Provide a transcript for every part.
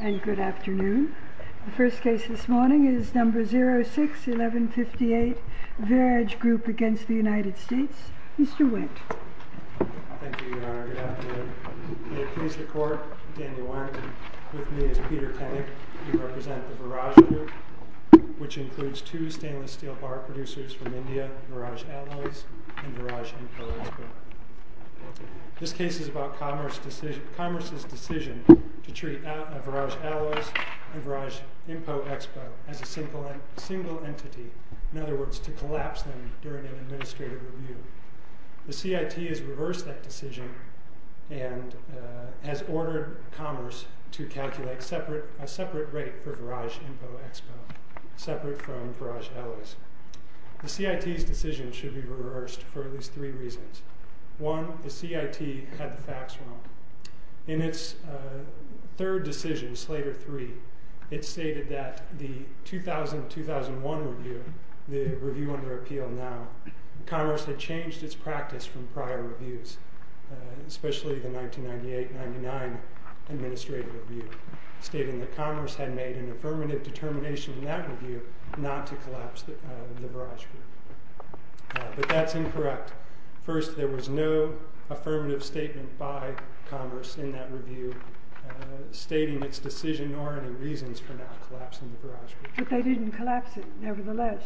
And good afternoon. The first case this morning is No. 06-1158 Verage Group v. United States. Mr. Wendt. Thank you, Your Honor. Good afternoon. May it please the Court, I'm Daniel Warrington. With me is Peter Tennant. He represents the Varaj Group, which includes two stainless steel bar producers from India, Varaj Alloys and Varaj Info Expo. This case is about Commerce's decision to treat Varaj Alloys and Varaj Info Expo as a single entity, in other words, to collapse them during an administrative review. The CIT has reversed that decision and has ordered Commerce to calculate a separate rate for Varaj Info Expo, separate from Varaj Alloys. The CIT's decision should be reversed for at least three reasons. One, the CIT had the third decision, Slater 3, it stated that the 2000-2001 review, the review under appeal now, Commerce had changed its practice from prior reviews, especially the 1998-99 administrative review, stating that Commerce had made an affirmative determination in that review not to collapse the Varaj Group. But that's incorrect. First, there was no affirmative statement by Commerce in that review stating its decision nor any reasons for not collapsing the Varaj Group. But they didn't collapse it nevertheless.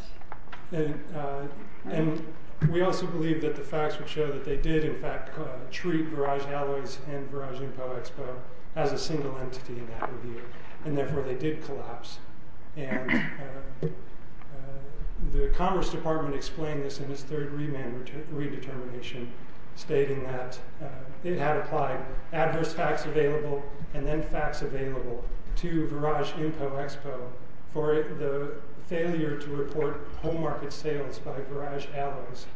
And we also believe that the facts would show that they did in fact treat Varaj Alloys and Varaj Info Expo as a single entity in that review, and therefore they did collapse. And the Commerce Department explained this in that it had applied adverse facts available and then facts available to Varaj Info Expo for the failure to report home market sales by Varaj Alloys.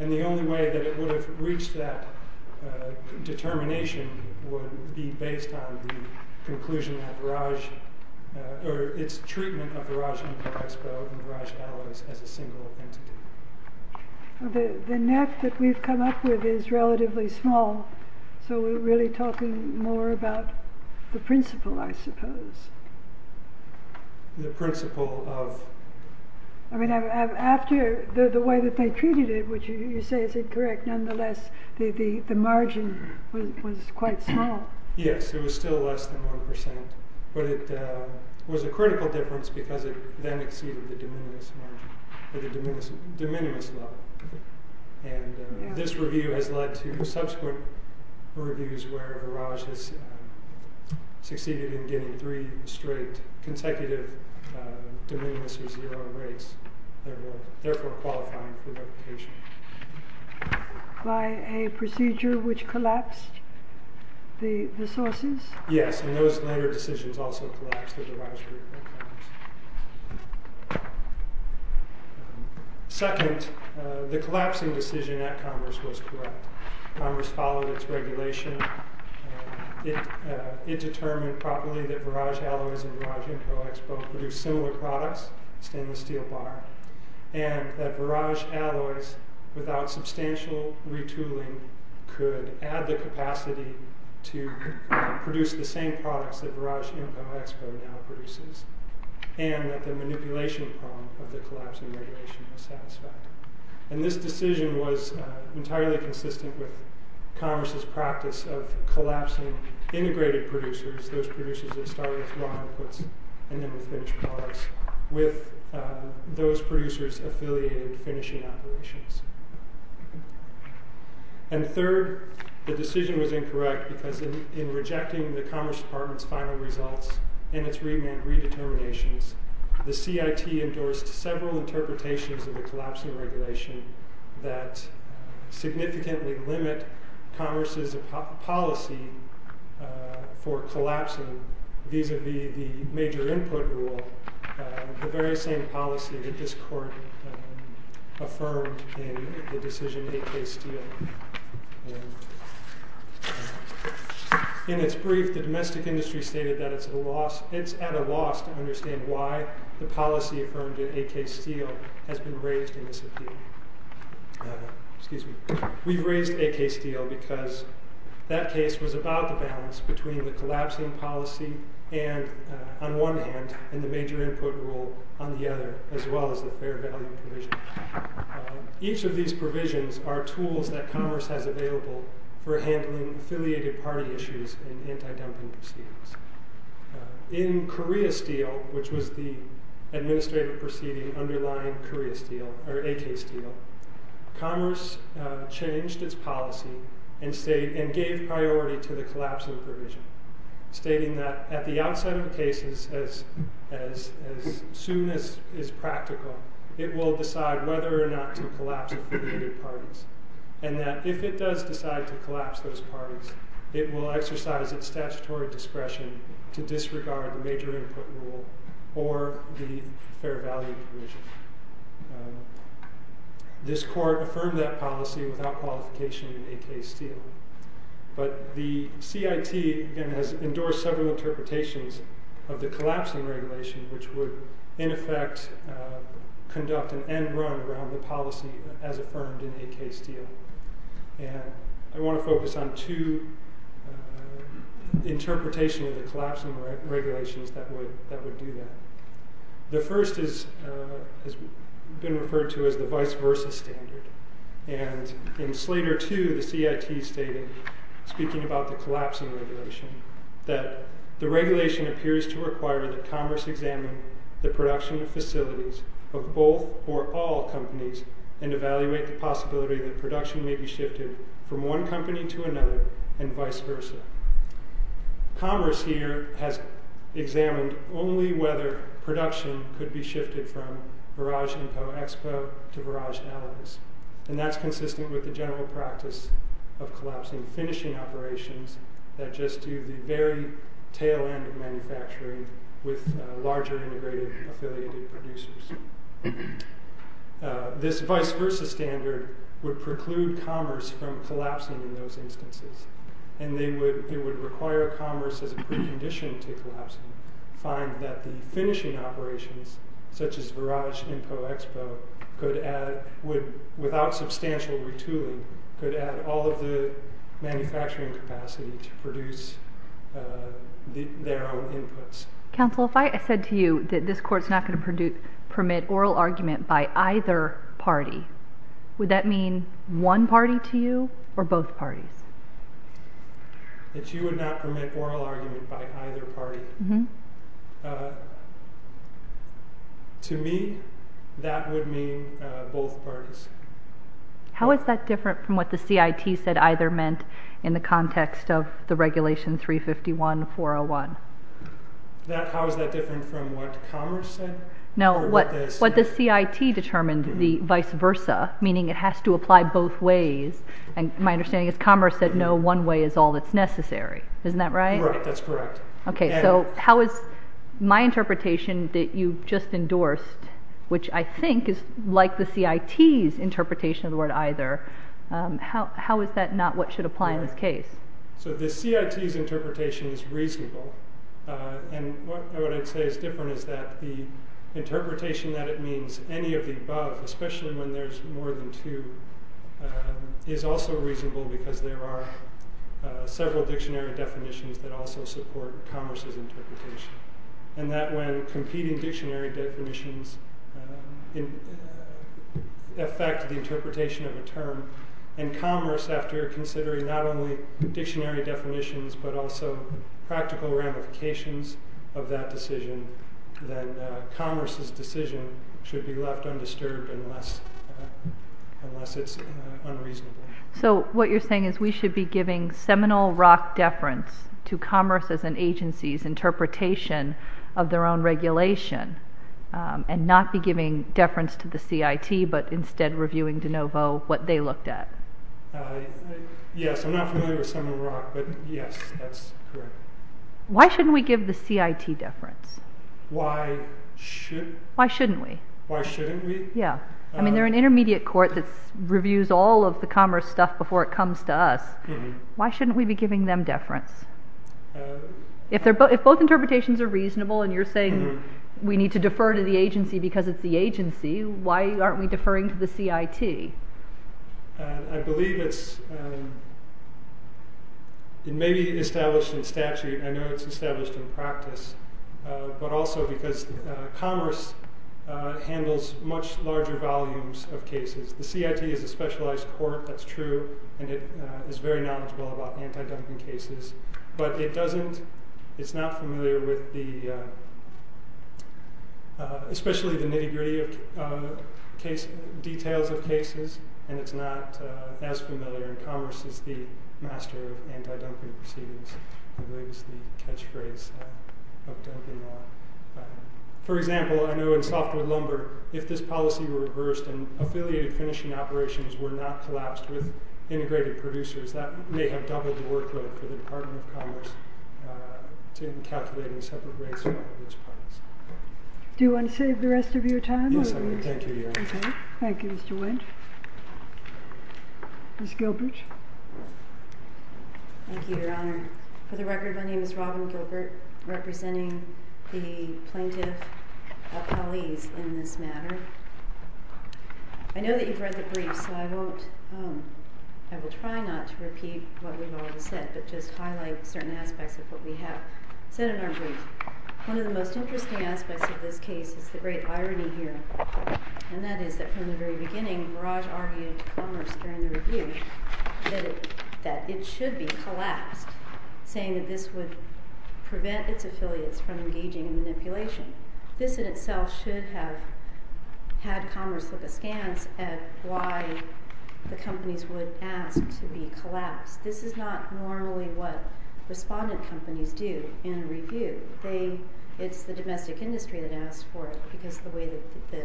And the only way that it would have reached that determination would be based on the conclusion that Varaj, or its treatment of Varaj Info Expo and Varaj Alloys as a single entity. The net that we've come up with is relatively small, so we're really talking more about the principle, I suppose. The principle of... I mean, after the way that they treated it, which you say is incorrect, nonetheless, the margin was quite small. Yes, it was still less than 1%. But it was a critical difference because it then exceeded the de minimis margin, or the de minimis level. And this review has led to subsequent reviews where Varaj has succeeded in getting three straight consecutive de minimis or zero rates, therefore qualifying for replication. By a procedure which collapsed the sources? Yes, and those later decisions also collapsed. Second, the collapsing decision at Commerce was correct. Commerce followed its regulation. It determined properly that Varaj Alloys and Varaj Info Expo produced similar products, stainless steel bar, and that Varaj Alloys, without substantial retooling, could add the same products that Varaj Info Expo now produces, and that the manipulation problem of the collapsing regulation was satisfied. And this decision was entirely consistent with Commerce's practice of collapsing integrated producers, those producers that started with raw inputs and then would finish products, with those producers affiliated finishing operations. And third, the decision was incorrect because in rejecting the Commerce Department's final results and its remand redeterminations, the CIT endorsed several interpretations of the collapsing regulation that significantly limit Commerce's policy for collapsing, vis-a-vis the major input rule, the very same policy that this court affirmed in the decision A.K. Steele. In its brief, the domestic industry stated that it's at a loss to understand why the policy affirmed in A.K. Steele has been raised in this appeal. We've raised A.K. Steele because that case was about the balance between the collapsing policy on one hand and the major input rule on the other, as well as the fair value provision. Each of these provisions are tools that Commerce has available for handling affiliated party issues and anti-dumping proceedings. In Korea Steele, which was the administrative proceeding underlying A.K. Steele, Commerce changed its policy and gave priority to the collapsing provision, stating that at the outside of the cases, as soon as is practical, it will decide whether or not to collapse affiliated parties, and that if it does decide to collapse those parties, it will exercise its statutory discretion to disregard the major input rule or the fair value provision. This court affirmed that policy without qualification in A.K. Steele. But the CIT, again, has endorsed several interpretations of the collapsing regulation, which would in effect conduct an end run around the policy as affirmed in A.K. Steele. I want to focus on two interpretations of the collapsing regulations that would do that. The first has been referred to as the vice versa standard. In Slater 2, the CIT stated, speaking about the collapsing regulation, that the regulation appears to require that Commerce examine the production facilities of both or all companies and evaluate the possibility that production may be shifted from one company to another and vice versa. Commerce here has examined only whether production could be shifted from barrage info expo to barrage alibis, and that's consistent with the general practice of collapsing finishing operations that just do the very tail end of manufacturing with larger integrated affiliated producers. This vice versa standard would preclude Commerce from collapsing in those instances, and it would require Commerce, as a precondition to collapsing, find that the finishing operations such as barrage info expo, without substantial retooling, could add all of the manufacturing capacity to produce their own inputs. Counsel, if I said to you that this court is not going to permit oral argument by either party, would that mean one party to you or both parties? That you would not permit oral argument by either party. To me, that would mean both parties. How is that different from what the CIT said either meant in the context of the regulation 351-401? How is that different from what Commerce said? No, what the CIT determined, the vice versa, meaning it has to apply both ways, and my understanding is Commerce said no, one way is all that's necessary. Isn't that right? Right, that's correct. Okay, so how is my interpretation that you just endorsed, which I think is like the CIT's interpretation of the word either, how is that not what should apply in this case? So the CIT's interpretation is reasonable, and what I'd say is different is that the interpretation that it means any of the above, especially when there's more than two, is also reasonable because there are several dictionary definitions that also support Commerce's interpretation, and that when competing dictionary definitions affect the interpretation of a dictionary definitions, but also practical ramifications of that decision, then Commerce's decision should be left undisturbed unless it's unreasonable. So what you're saying is we should be giving seminal rock deference to Commerce's and agency's interpretation of their own regulation, and not be giving deference to the CIT, but instead reviewing de novo what they looked at? Yes, I'm not familiar with seminal rock, but yes, that's correct. Why shouldn't we give the CIT deference? Why should? Why shouldn't we? Why shouldn't we? Yeah. I mean, they're an intermediate court that reviews all of the Commerce stuff before it comes to us. Why shouldn't we be giving them deference? If both interpretations are reasonable, and you're saying we need to defer to the agency because it's the agency, why aren't we deferring to the CIT? I believe it's maybe established in statute. I know it's established in practice, but also because Commerce handles much larger volumes of cases. The CIT is a specialized court, that's true, and it is very knowledgeable about anti-dumping cases. But it's not familiar with the, especially the nitty-gritty details of cases, and it's not as familiar, and Commerce is the master of anti-dumping proceedings. I believe is the catchphrase of dumping law. For example, I know in softwood lumber, if this policy were reversed and affiliated finishing operations were not collapsed with integrated producers, that may have doubled the workload for the Department of Commerce in calculating separate rates for all of its parts. Do you want to save the rest of your time? Yes, I do. Thank you, Your Honor. Thank you, Mr. Wendt. Ms. Gilbert. Thank you, Your Honor. For the record, my name is Robin Gilbert, representing the plaintiff, Apalis, in this matter. I know that you've read the brief, so I won't, I will try not to repeat what we've already said, but just highlight certain aspects of what we have said in our brief. One of the most interesting aspects of this case is the great irony here, and that is that from the very beginning, Barrage argued to Commerce during the review that it should be collapsed, saying that this would prevent its affiliates from engaging in manipulation. This in itself should have had Commerce look askance at why the companies would ask to be collapsed. This is not normally what respondent companies do in a review. It's the domestic industry that asks for it, because of the way that the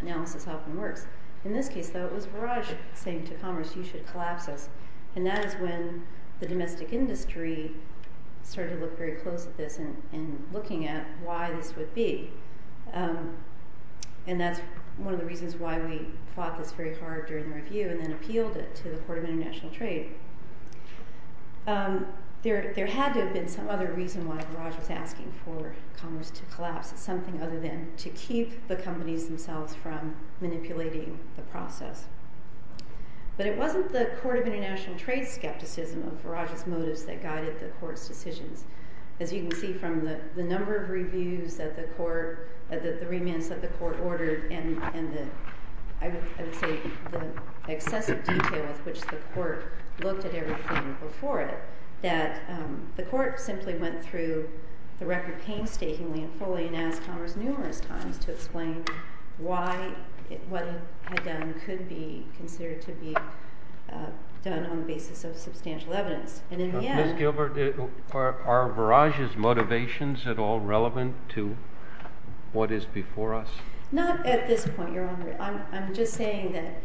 analysis often works. In this case, though, it was Barrage saying to Commerce, you should collapse us, and that is when the domestic industry started to look very close at this and looking at why this would be, and that's one of the reasons why we fought this very hard during the review and then appealed it to the Court of International Trade. There had to have been some other reason why Barrage was asking for Commerce to collapse, something other than to keep the companies themselves from manipulating the process. But it wasn't the Court of International Trade's skepticism of Barrage's motives that guided the Court's decisions. As you can see from the number of reviews that the Court, the remits that the Court ordered, and I would say the excessive detail with which the Court looked at everything before it, that the Court simply went through the record painstakingly and fully and asked Commerce numerous times to explain why what it had done could be considered to be done on the basis of substantial evidence. And in the end— Are Barrage's motivations at all relevant to what is before us? Not at this point, Your Honor. I'm just saying that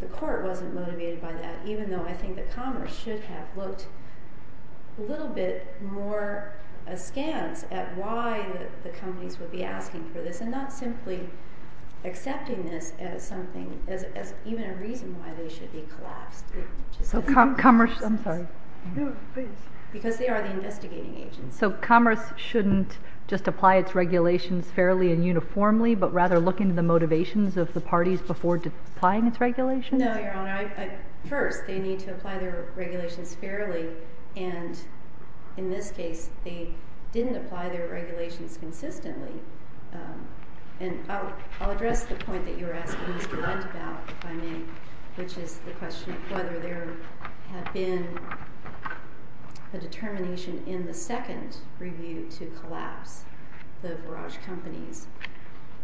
the Court wasn't motivated by that, even though I think that Commerce should have looked a little bit more askance at why the companies would be asking for this and not simply accepting this as something, as even a reason why they should be collapsed. So Commerce—I'm sorry. No, please. Because they are the investigating agents. So Commerce shouldn't just apply its regulations fairly and uniformly, but rather look into the motivations of the parties before applying its regulations? No, Your Honor. First, they need to apply their regulations fairly, and in this case, they didn't apply their regulations consistently. And I'll address the point that you were asking Mr. Wendt about, if I may, which is the question of whether there had been a determination in the second review to collapse the Barrage companies.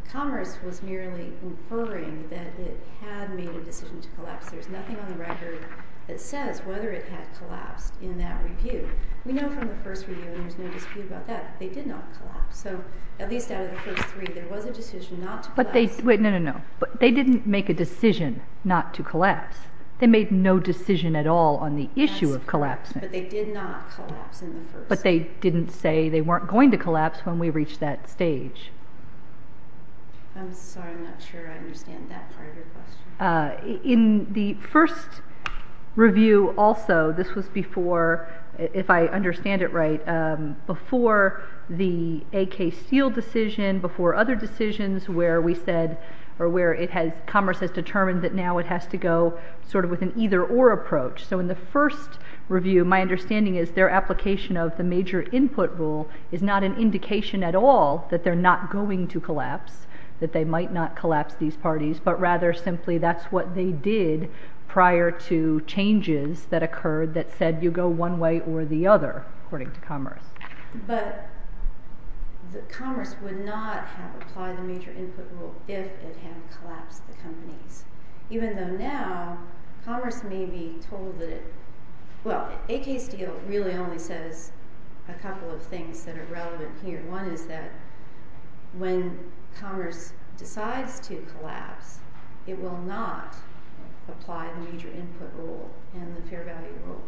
Commerce was merely inferring that it had made a decision to collapse. There's nothing on the record that says whether it had collapsed in that review. We know from the first review, and there's no dispute about that, they did not collapse. So at least out of the first three, there was a decision not to collapse. But they—no, no, no. They didn't make a decision not to collapse. They made no decision at all on the issue of collapse. But they did not collapse in the first— But they didn't say they weren't going to collapse when we reached that stage. I'm sorry. I'm not sure I understand that part of your question. In the first review also, this was before, if I understand it right, before the AK Steele decision, before other decisions where we said—or where Commerce has determined that now it has to go sort of with an either-or approach. So in the first review, my understanding is their application of the major input rule is not an indication at all that they're not going to collapse, that they might not collapse these parties, but rather simply that's what they did prior to changes that occurred that said you go one way or the other, according to Commerce. But Commerce would not have applied the major input rule if it had collapsed the companies, even though now Commerce may be told that it—well, AK Steele really only says a couple of things that are relevant here. One is that when Commerce decides to collapse, it will not apply the major input rule and the fair value rule.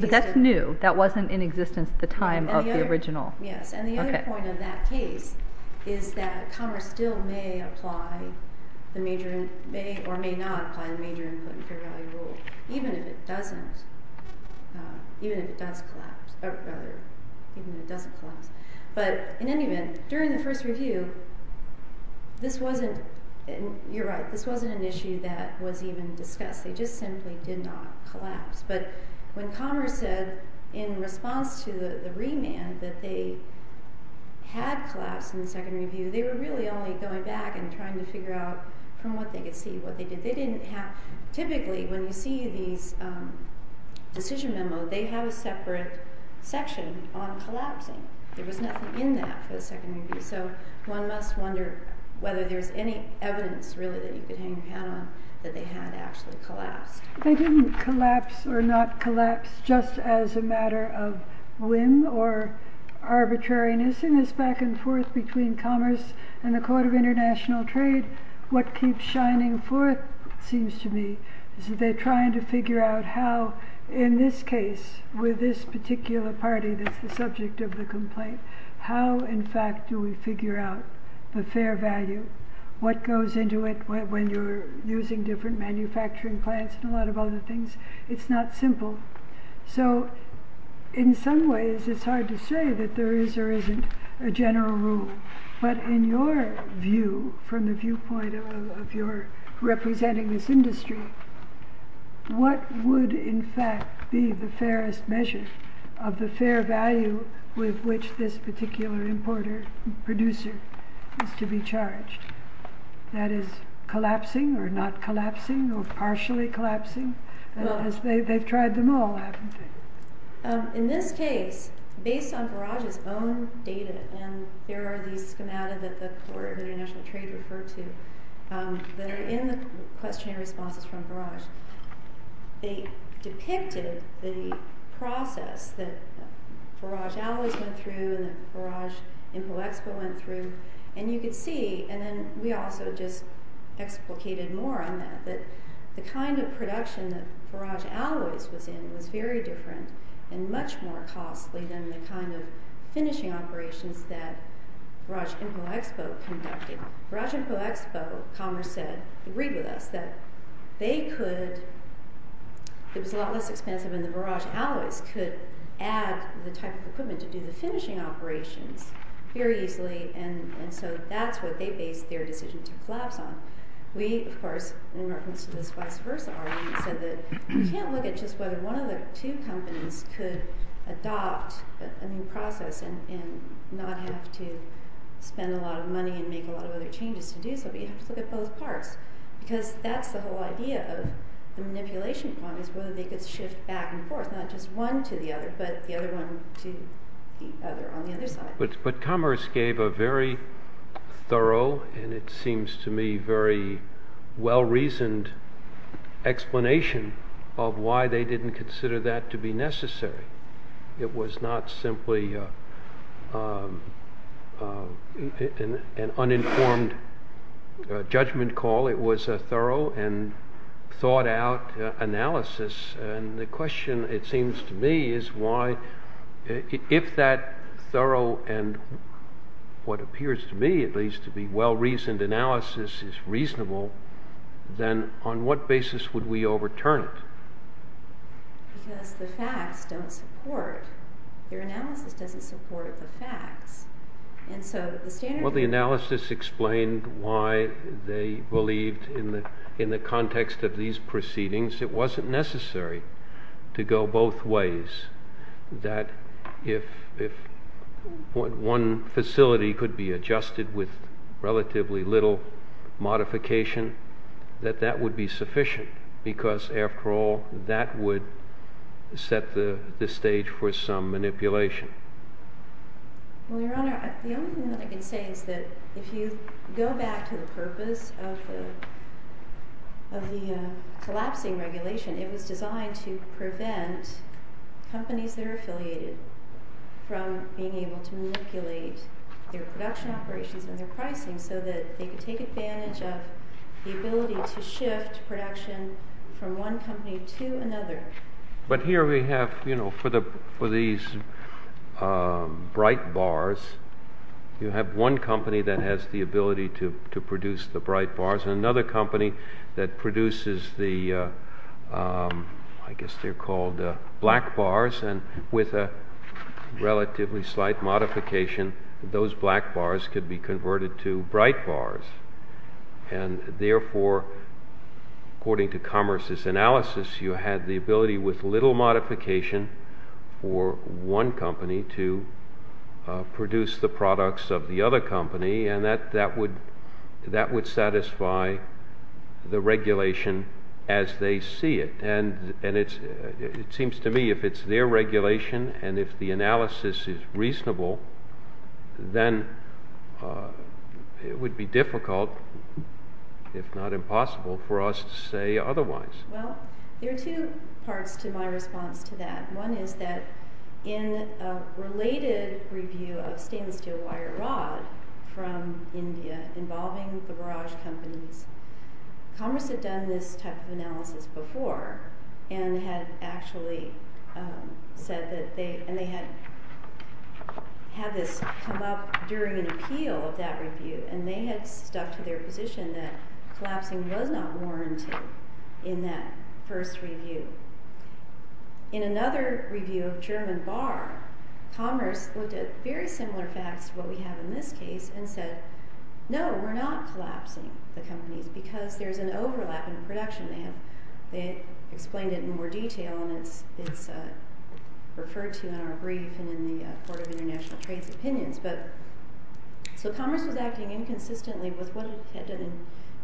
But that's new. That wasn't in existence at the time of the original. Yes, and the other point of that case is that Commerce still may apply the major—or may not apply the major input and fair value rule, even if it doesn't collapse. But in any event, during the first review, this wasn't—you're right, this wasn't an issue that was even discussed. They just simply did not collapse. But when Commerce said in response to the remand that they had collapsed in the second review, they were really only going back and trying to figure out from what they could see what they did. They didn't have—typically when you see these decision memos, they have a separate section on collapsing. There was nothing in that for the second review. So one must wonder whether there's any evidence really that you could hang your hat on that they had actually collapsed. They didn't collapse or not collapse just as a matter of whim or arbitrariness in this back and forth between Commerce and the Court of International Trade. What keeps shining forth, it seems to me, is that they're trying to figure out how, in this case, with this particular party that's the subject of the complaint, how in fact do we figure out the fair value? What goes into it when you're using different manufacturing plants and a lot of other things? It's not simple. So in some ways, it's hard to say that there is or isn't a general rule. But in your view, from the viewpoint of your representing this industry, what would in fact be the fairest measure of the fair value with which this particular importer, producer is to be charged? That is, collapsing or not collapsing or partially collapsing? They've tried them all, haven't they? In this case, based on Barrage's own data, and there are these schemata that the Court of International Trade referred to that are in the questionnaire responses from Barrage, they depicted the process that Barrage Alloys went through and that Barrage Info Expo went through. And you could see, and then we also just explicated more on that, that the kind of production that Barrage Alloys was in was very different and much more costly than the kind of finishing operations that Barrage Info Expo conducted. Barrage Info Expo, Commerce said, agreed with us that they could, it was a lot less expensive and the Barrage Alloys could add the type of equipment to do the finishing operations very easily. And so that's what they based their decision to collapse on. We, of course, in reference to this vice versa argument, said that you can't look at just whether one of the two companies could adopt a new process and not have to spend a lot of money and make a lot of other changes to do so. You have to look at both parts, because that's the whole idea of the manipulation problem, is whether they could shift back and forth, not just one to the other, but the other one to the other on the other side. But Commerce gave a very thorough, and it seems to me, very well-reasoned explanation of why they didn't consider that to be necessary. It was not simply an uninformed judgment call. It was a thorough and thought-out analysis. And the question, it seems to me, is why, if that thorough and what appears to me, at least, to be well-reasoned analysis is reasonable, then on what basis would we overturn it? Because the facts don't support. Your analysis doesn't support the facts. And so the standard... Well, the analysis explained why they believed, in the context of these proceedings, it wasn't necessary to go both ways, that if one facility could be adjusted with relatively little modification, that that would be sufficient. Because, after all, that would set the stage for some manipulation. Well, Your Honor, the only thing that I can say is that if you go back to the purpose of the collapsing regulation, it was designed to prevent companies that are affiliated from being able to manipulate their production operations and their pricing so that they could take advantage of the ability to shift production from one company to another. But here we have, you know, for these bright bars, you have one company that has the ability to produce the bright bars, and another company that produces the, I guess they're called black bars, and with a relatively slight modification, those black bars could be converted to bright bars. And therefore, according to Commerce's analysis, you had the ability with little modification for one company to produce the products of the other company, and that would satisfy the regulation as they see it. And it seems to me if it's their regulation, and if the analysis is reasonable, then it would be difficult, if not impossible, for us to say otherwise. Well, there are two parts to my response to that. One is that in a related review of stainless steel wire rod from India involving the barrage companies, Commerce had done this type of analysis before and had actually said that they, and they had had this come up during an appeal of that review, and they had stuck to their position that collapsing was not warranted in that first review. In another review of German bar, Commerce looked at very similar facts to what we have in this case and said, no, we're not collapsing the companies because there's an overlap in production. They explained it in more detail, and it's referred to in our brief and in the Board of International Trade's opinions. So Commerce was acting inconsistently with what it had done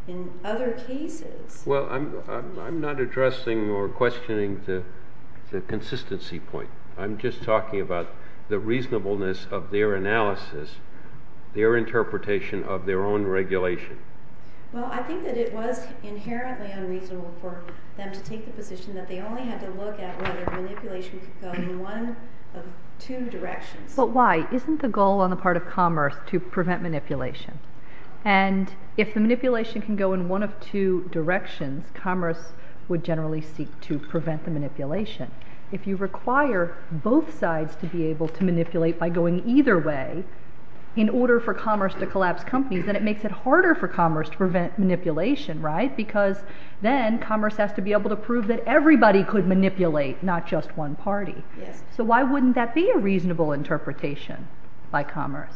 in other cases. Well, I'm not addressing or questioning the consistency point. I'm just talking about the reasonableness of their analysis, their interpretation of their own regulation. Well, I think that it was inherently unreasonable for them to take the position that they only had to look at whether manipulation could go in one of two directions. But why? Isn't the goal on the part of Commerce to prevent manipulation? And if the manipulation can go in one of two directions, Commerce would generally seek to prevent the manipulation. If you require both sides to be able to manipulate by going either way in order for Commerce to collapse companies, then it makes it harder for Commerce to prevent manipulation, right? Because then Commerce has to be able to prove that everybody could manipulate, not just one party. So why wouldn't that be a reasonable interpretation by Commerce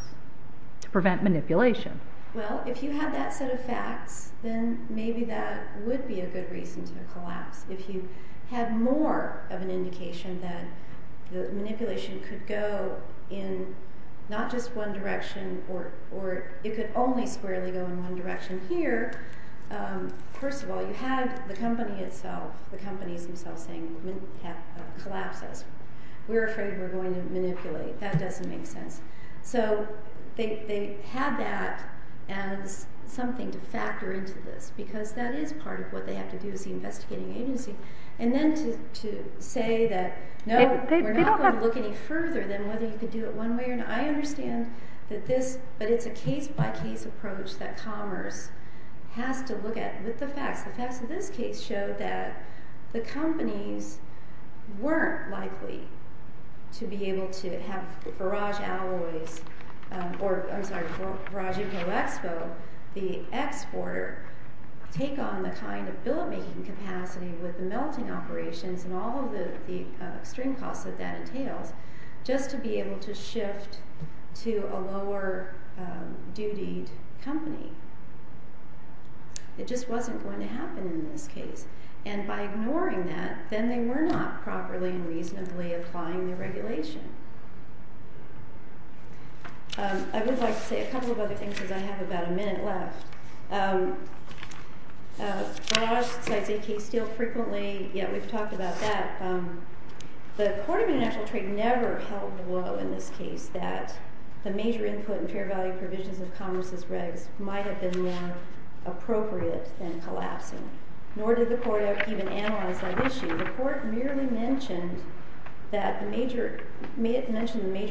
to prevent manipulation? Well, if you have that set of facts, then maybe that would be a good reason to collapse. If you have more of an indication that the manipulation could go in not just one direction or it could only squarely go in one direction here, first of all, you have the company itself, the companies themselves saying, we're afraid we're going to manipulate. That doesn't make sense. So they have that as something to factor into this, because that is part of what they have to do as the investigating agency. And then to say that, no, we're not going to look any further than whether you could do it one way or another. I understand that this, but it's a case by case approach that Commerce has to look at with the facts. The facts of this case show that the companies weren't likely to be able to have Barrage Alloys, or I'm sorry, Barrage Expo, the exporter, take on the kind of billet making capacity with the melting operations and all of the extreme costs that that entails, just to be able to shift to a lower dutied company. It just wasn't going to happen in this case. And by ignoring that, then they were not properly and reasonably applying the regulation. I would like to say a couple of other things, because I have about a minute left. Barrage decides a case deal frequently, yet we've talked about that. The Court of International Trade never held low in this case that the major input and fair value provisions of Commerce's regs might have been more appropriate than collapsing. Nor did the Court even analyze that issue. The Court merely mentioned the major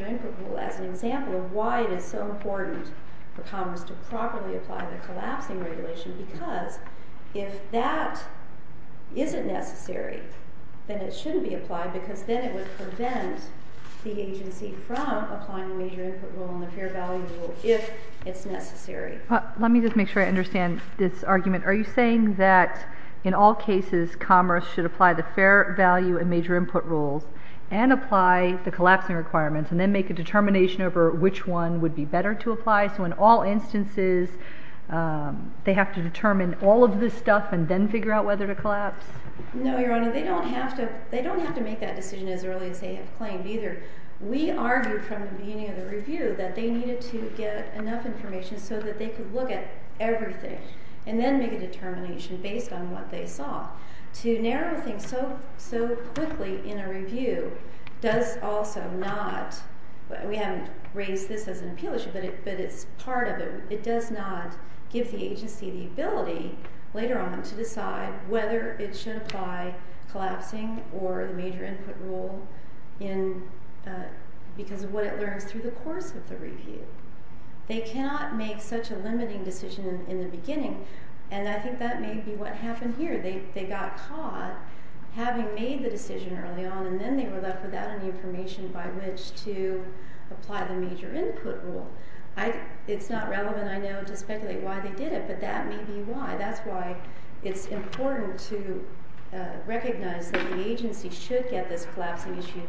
input rule as an example of why it is so important for Commerce to properly apply the collapsing regulation, because if that isn't necessary, then it shouldn't be applied, because then it would prevent the agency from applying the major input rule and the fair value rule, if it's necessary. Let me just make sure I understand this argument. Are you saying that in all cases, Commerce should apply the fair value and major input rules and apply the collapsing requirements, and then make a determination over which one would be better to apply, so in all instances, they have to determine all of this stuff and then figure out whether to collapse? No, Your Honor. They don't have to make that decision as early as they have claimed, either. We argued from the beginning of the review that they needed to get enough information so that they could look at everything and then make a determination based on what they saw. To narrow things so quickly in a review does also not—we haven't raised this as an appeal issue, but it's part of it—it does not give the agency the ability later on to decide whether it should apply collapsing or the major input rule because of what it learns through the course of the review. They cannot make such a limiting decision in the beginning, and I think that may be what happened here. They got caught having made the decision early on, and then they were left without any information by which to apply the major input rule. It's not relevant, I know, to speculate why they did it, but that may be why. That's why it's important to recognize that the agency should get this collapsing issue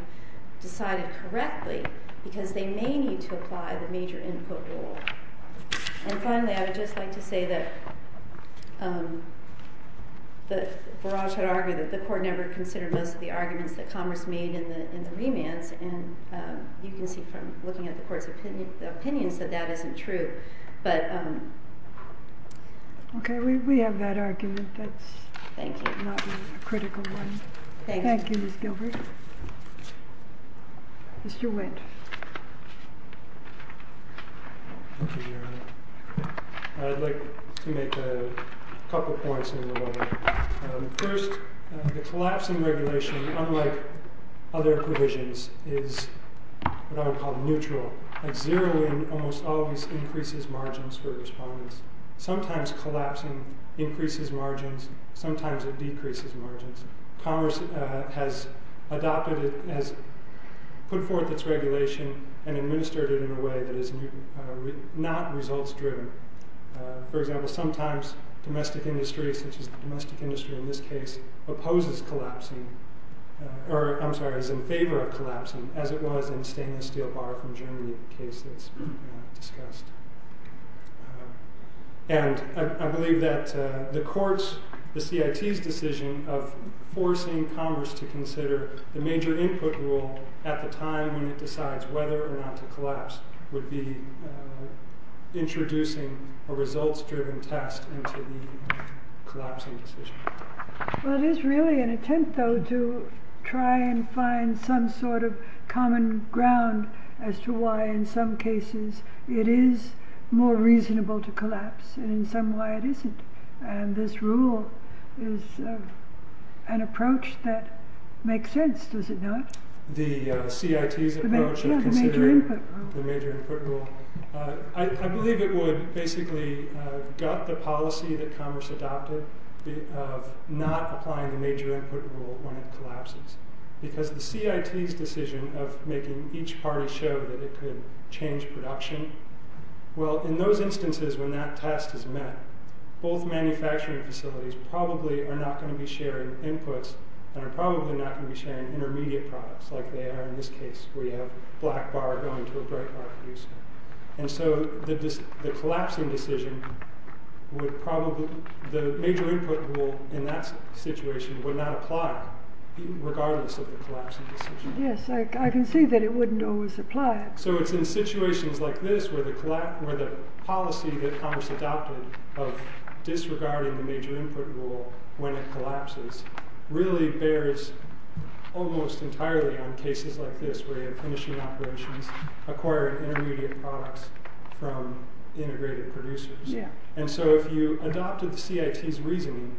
decided correctly because they may need to apply the major input rule. And finally, I would just like to say that Barrage had argued that the Court never considered most of the arguments that Congress made in the remands, and you can see from looking at the Court's opinions that that isn't true. Okay, we have that argument. That's not a critical one. Thank you, Ms. Gilbert. Mr. Wendt. Thank you, Your Honor. I'd like to make a couple points here. First, the collapsing regulation, unlike other provisions, is what I would call neutral. Zeroing almost always increases margins for respondents. Sometimes collapsing increases margins. Sometimes it decreases margins. Congress has put forth its regulation and administered it in a way that is not results-driven. For example, sometimes domestic industry, such as the domestic industry in this case, opposes collapsing, or I'm sorry, is in favor of collapsing, as it was in the stainless steel bar from Germany case that's discussed. And I believe that the Court's, the CIT's decision of forcing Congress to consider the major input rule at the time when it decides whether or not to collapse would be introducing a results-driven test into the collapsing decision. Well, it is really an attempt, though, to try and find some sort of common ground as to why in some cases it is more reasonable to collapse and in some why it isn't. And this rule is an approach that makes sense, does it not? The CIT's approach of considering the major input rule. I believe it would basically gut the policy that Congress adopted of not applying the major input rule when it collapses. Because the CIT's decision of making each party show that it could change production, well, in those instances when that test is met, both manufacturing facilities probably are not going to be sharing inputs and are probably not going to be sharing intermediate products like they are in this case where you have black bar going to a bright bar producer. And so the collapsing decision would probably, the major input rule in that situation would not apply regardless of the collapsing decision. Yes, I can see that it wouldn't always apply. So it's in situations like this where the policy that Congress adopted of disregarding the major input rule when it collapses really bears almost entirely on cases like this where you're finishing operations, acquiring intermediate products from integrated producers. And so if you adopted the CIT's reasoning,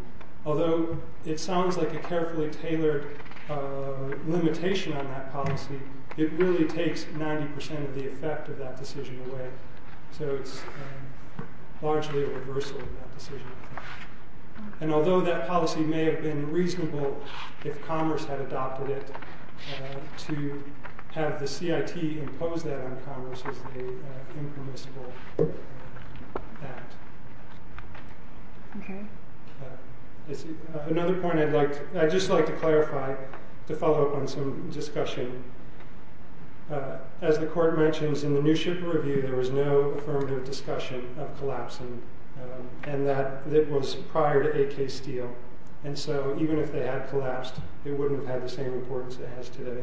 although it sounds like a carefully tailored limitation on that policy, it really takes 90% of the effect of that decision away. So it's largely a reversal of that decision. And although that policy may have been reasonable if Congress had adopted it, to have the CIT impose that on Congress is an impermissible act. Another point I'd like, I'd just like to clarify to follow up on some discussion. As the court mentions in the New Ship review, there was no affirmative discussion of collapsing and that it was prior to a case deal. And so even if they had collapsed, it wouldn't have had the same importance it has today.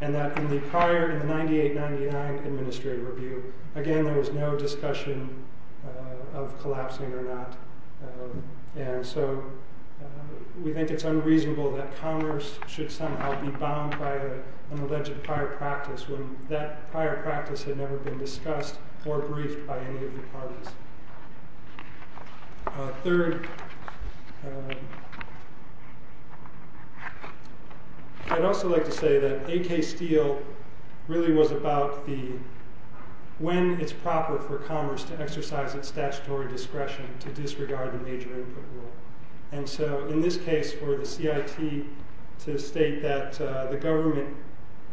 And that in the prior, in the 98-99 Administrative Review, again there was no discussion of collapsing or not. And so we think it's unreasonable that Congress should somehow be bound by an alleged prior practice when that prior practice had never been discussed or briefed by any of the parties. Third, I'd also like to say that a case deal really was about the, when it's proper for Congress to exercise its statutory discretion to disregard the major input rule. And so in this case for the CIT to state that the government,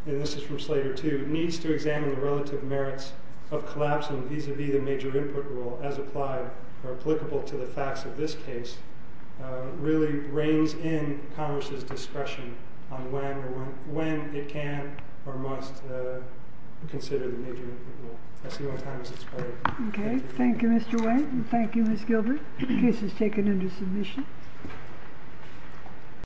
and this is from Slater too, needs to examine the relative merits of collapsing vis-a-vis the major input rule as applied or applicable to the facts of this case, really reigns in Congress's discretion on when it can or must consider the major input rule. I see one time, Mrs. Carter. Okay. Thank you, Mr. Wayne. Thank you, Ms. Gilbert. The case is taken under submission.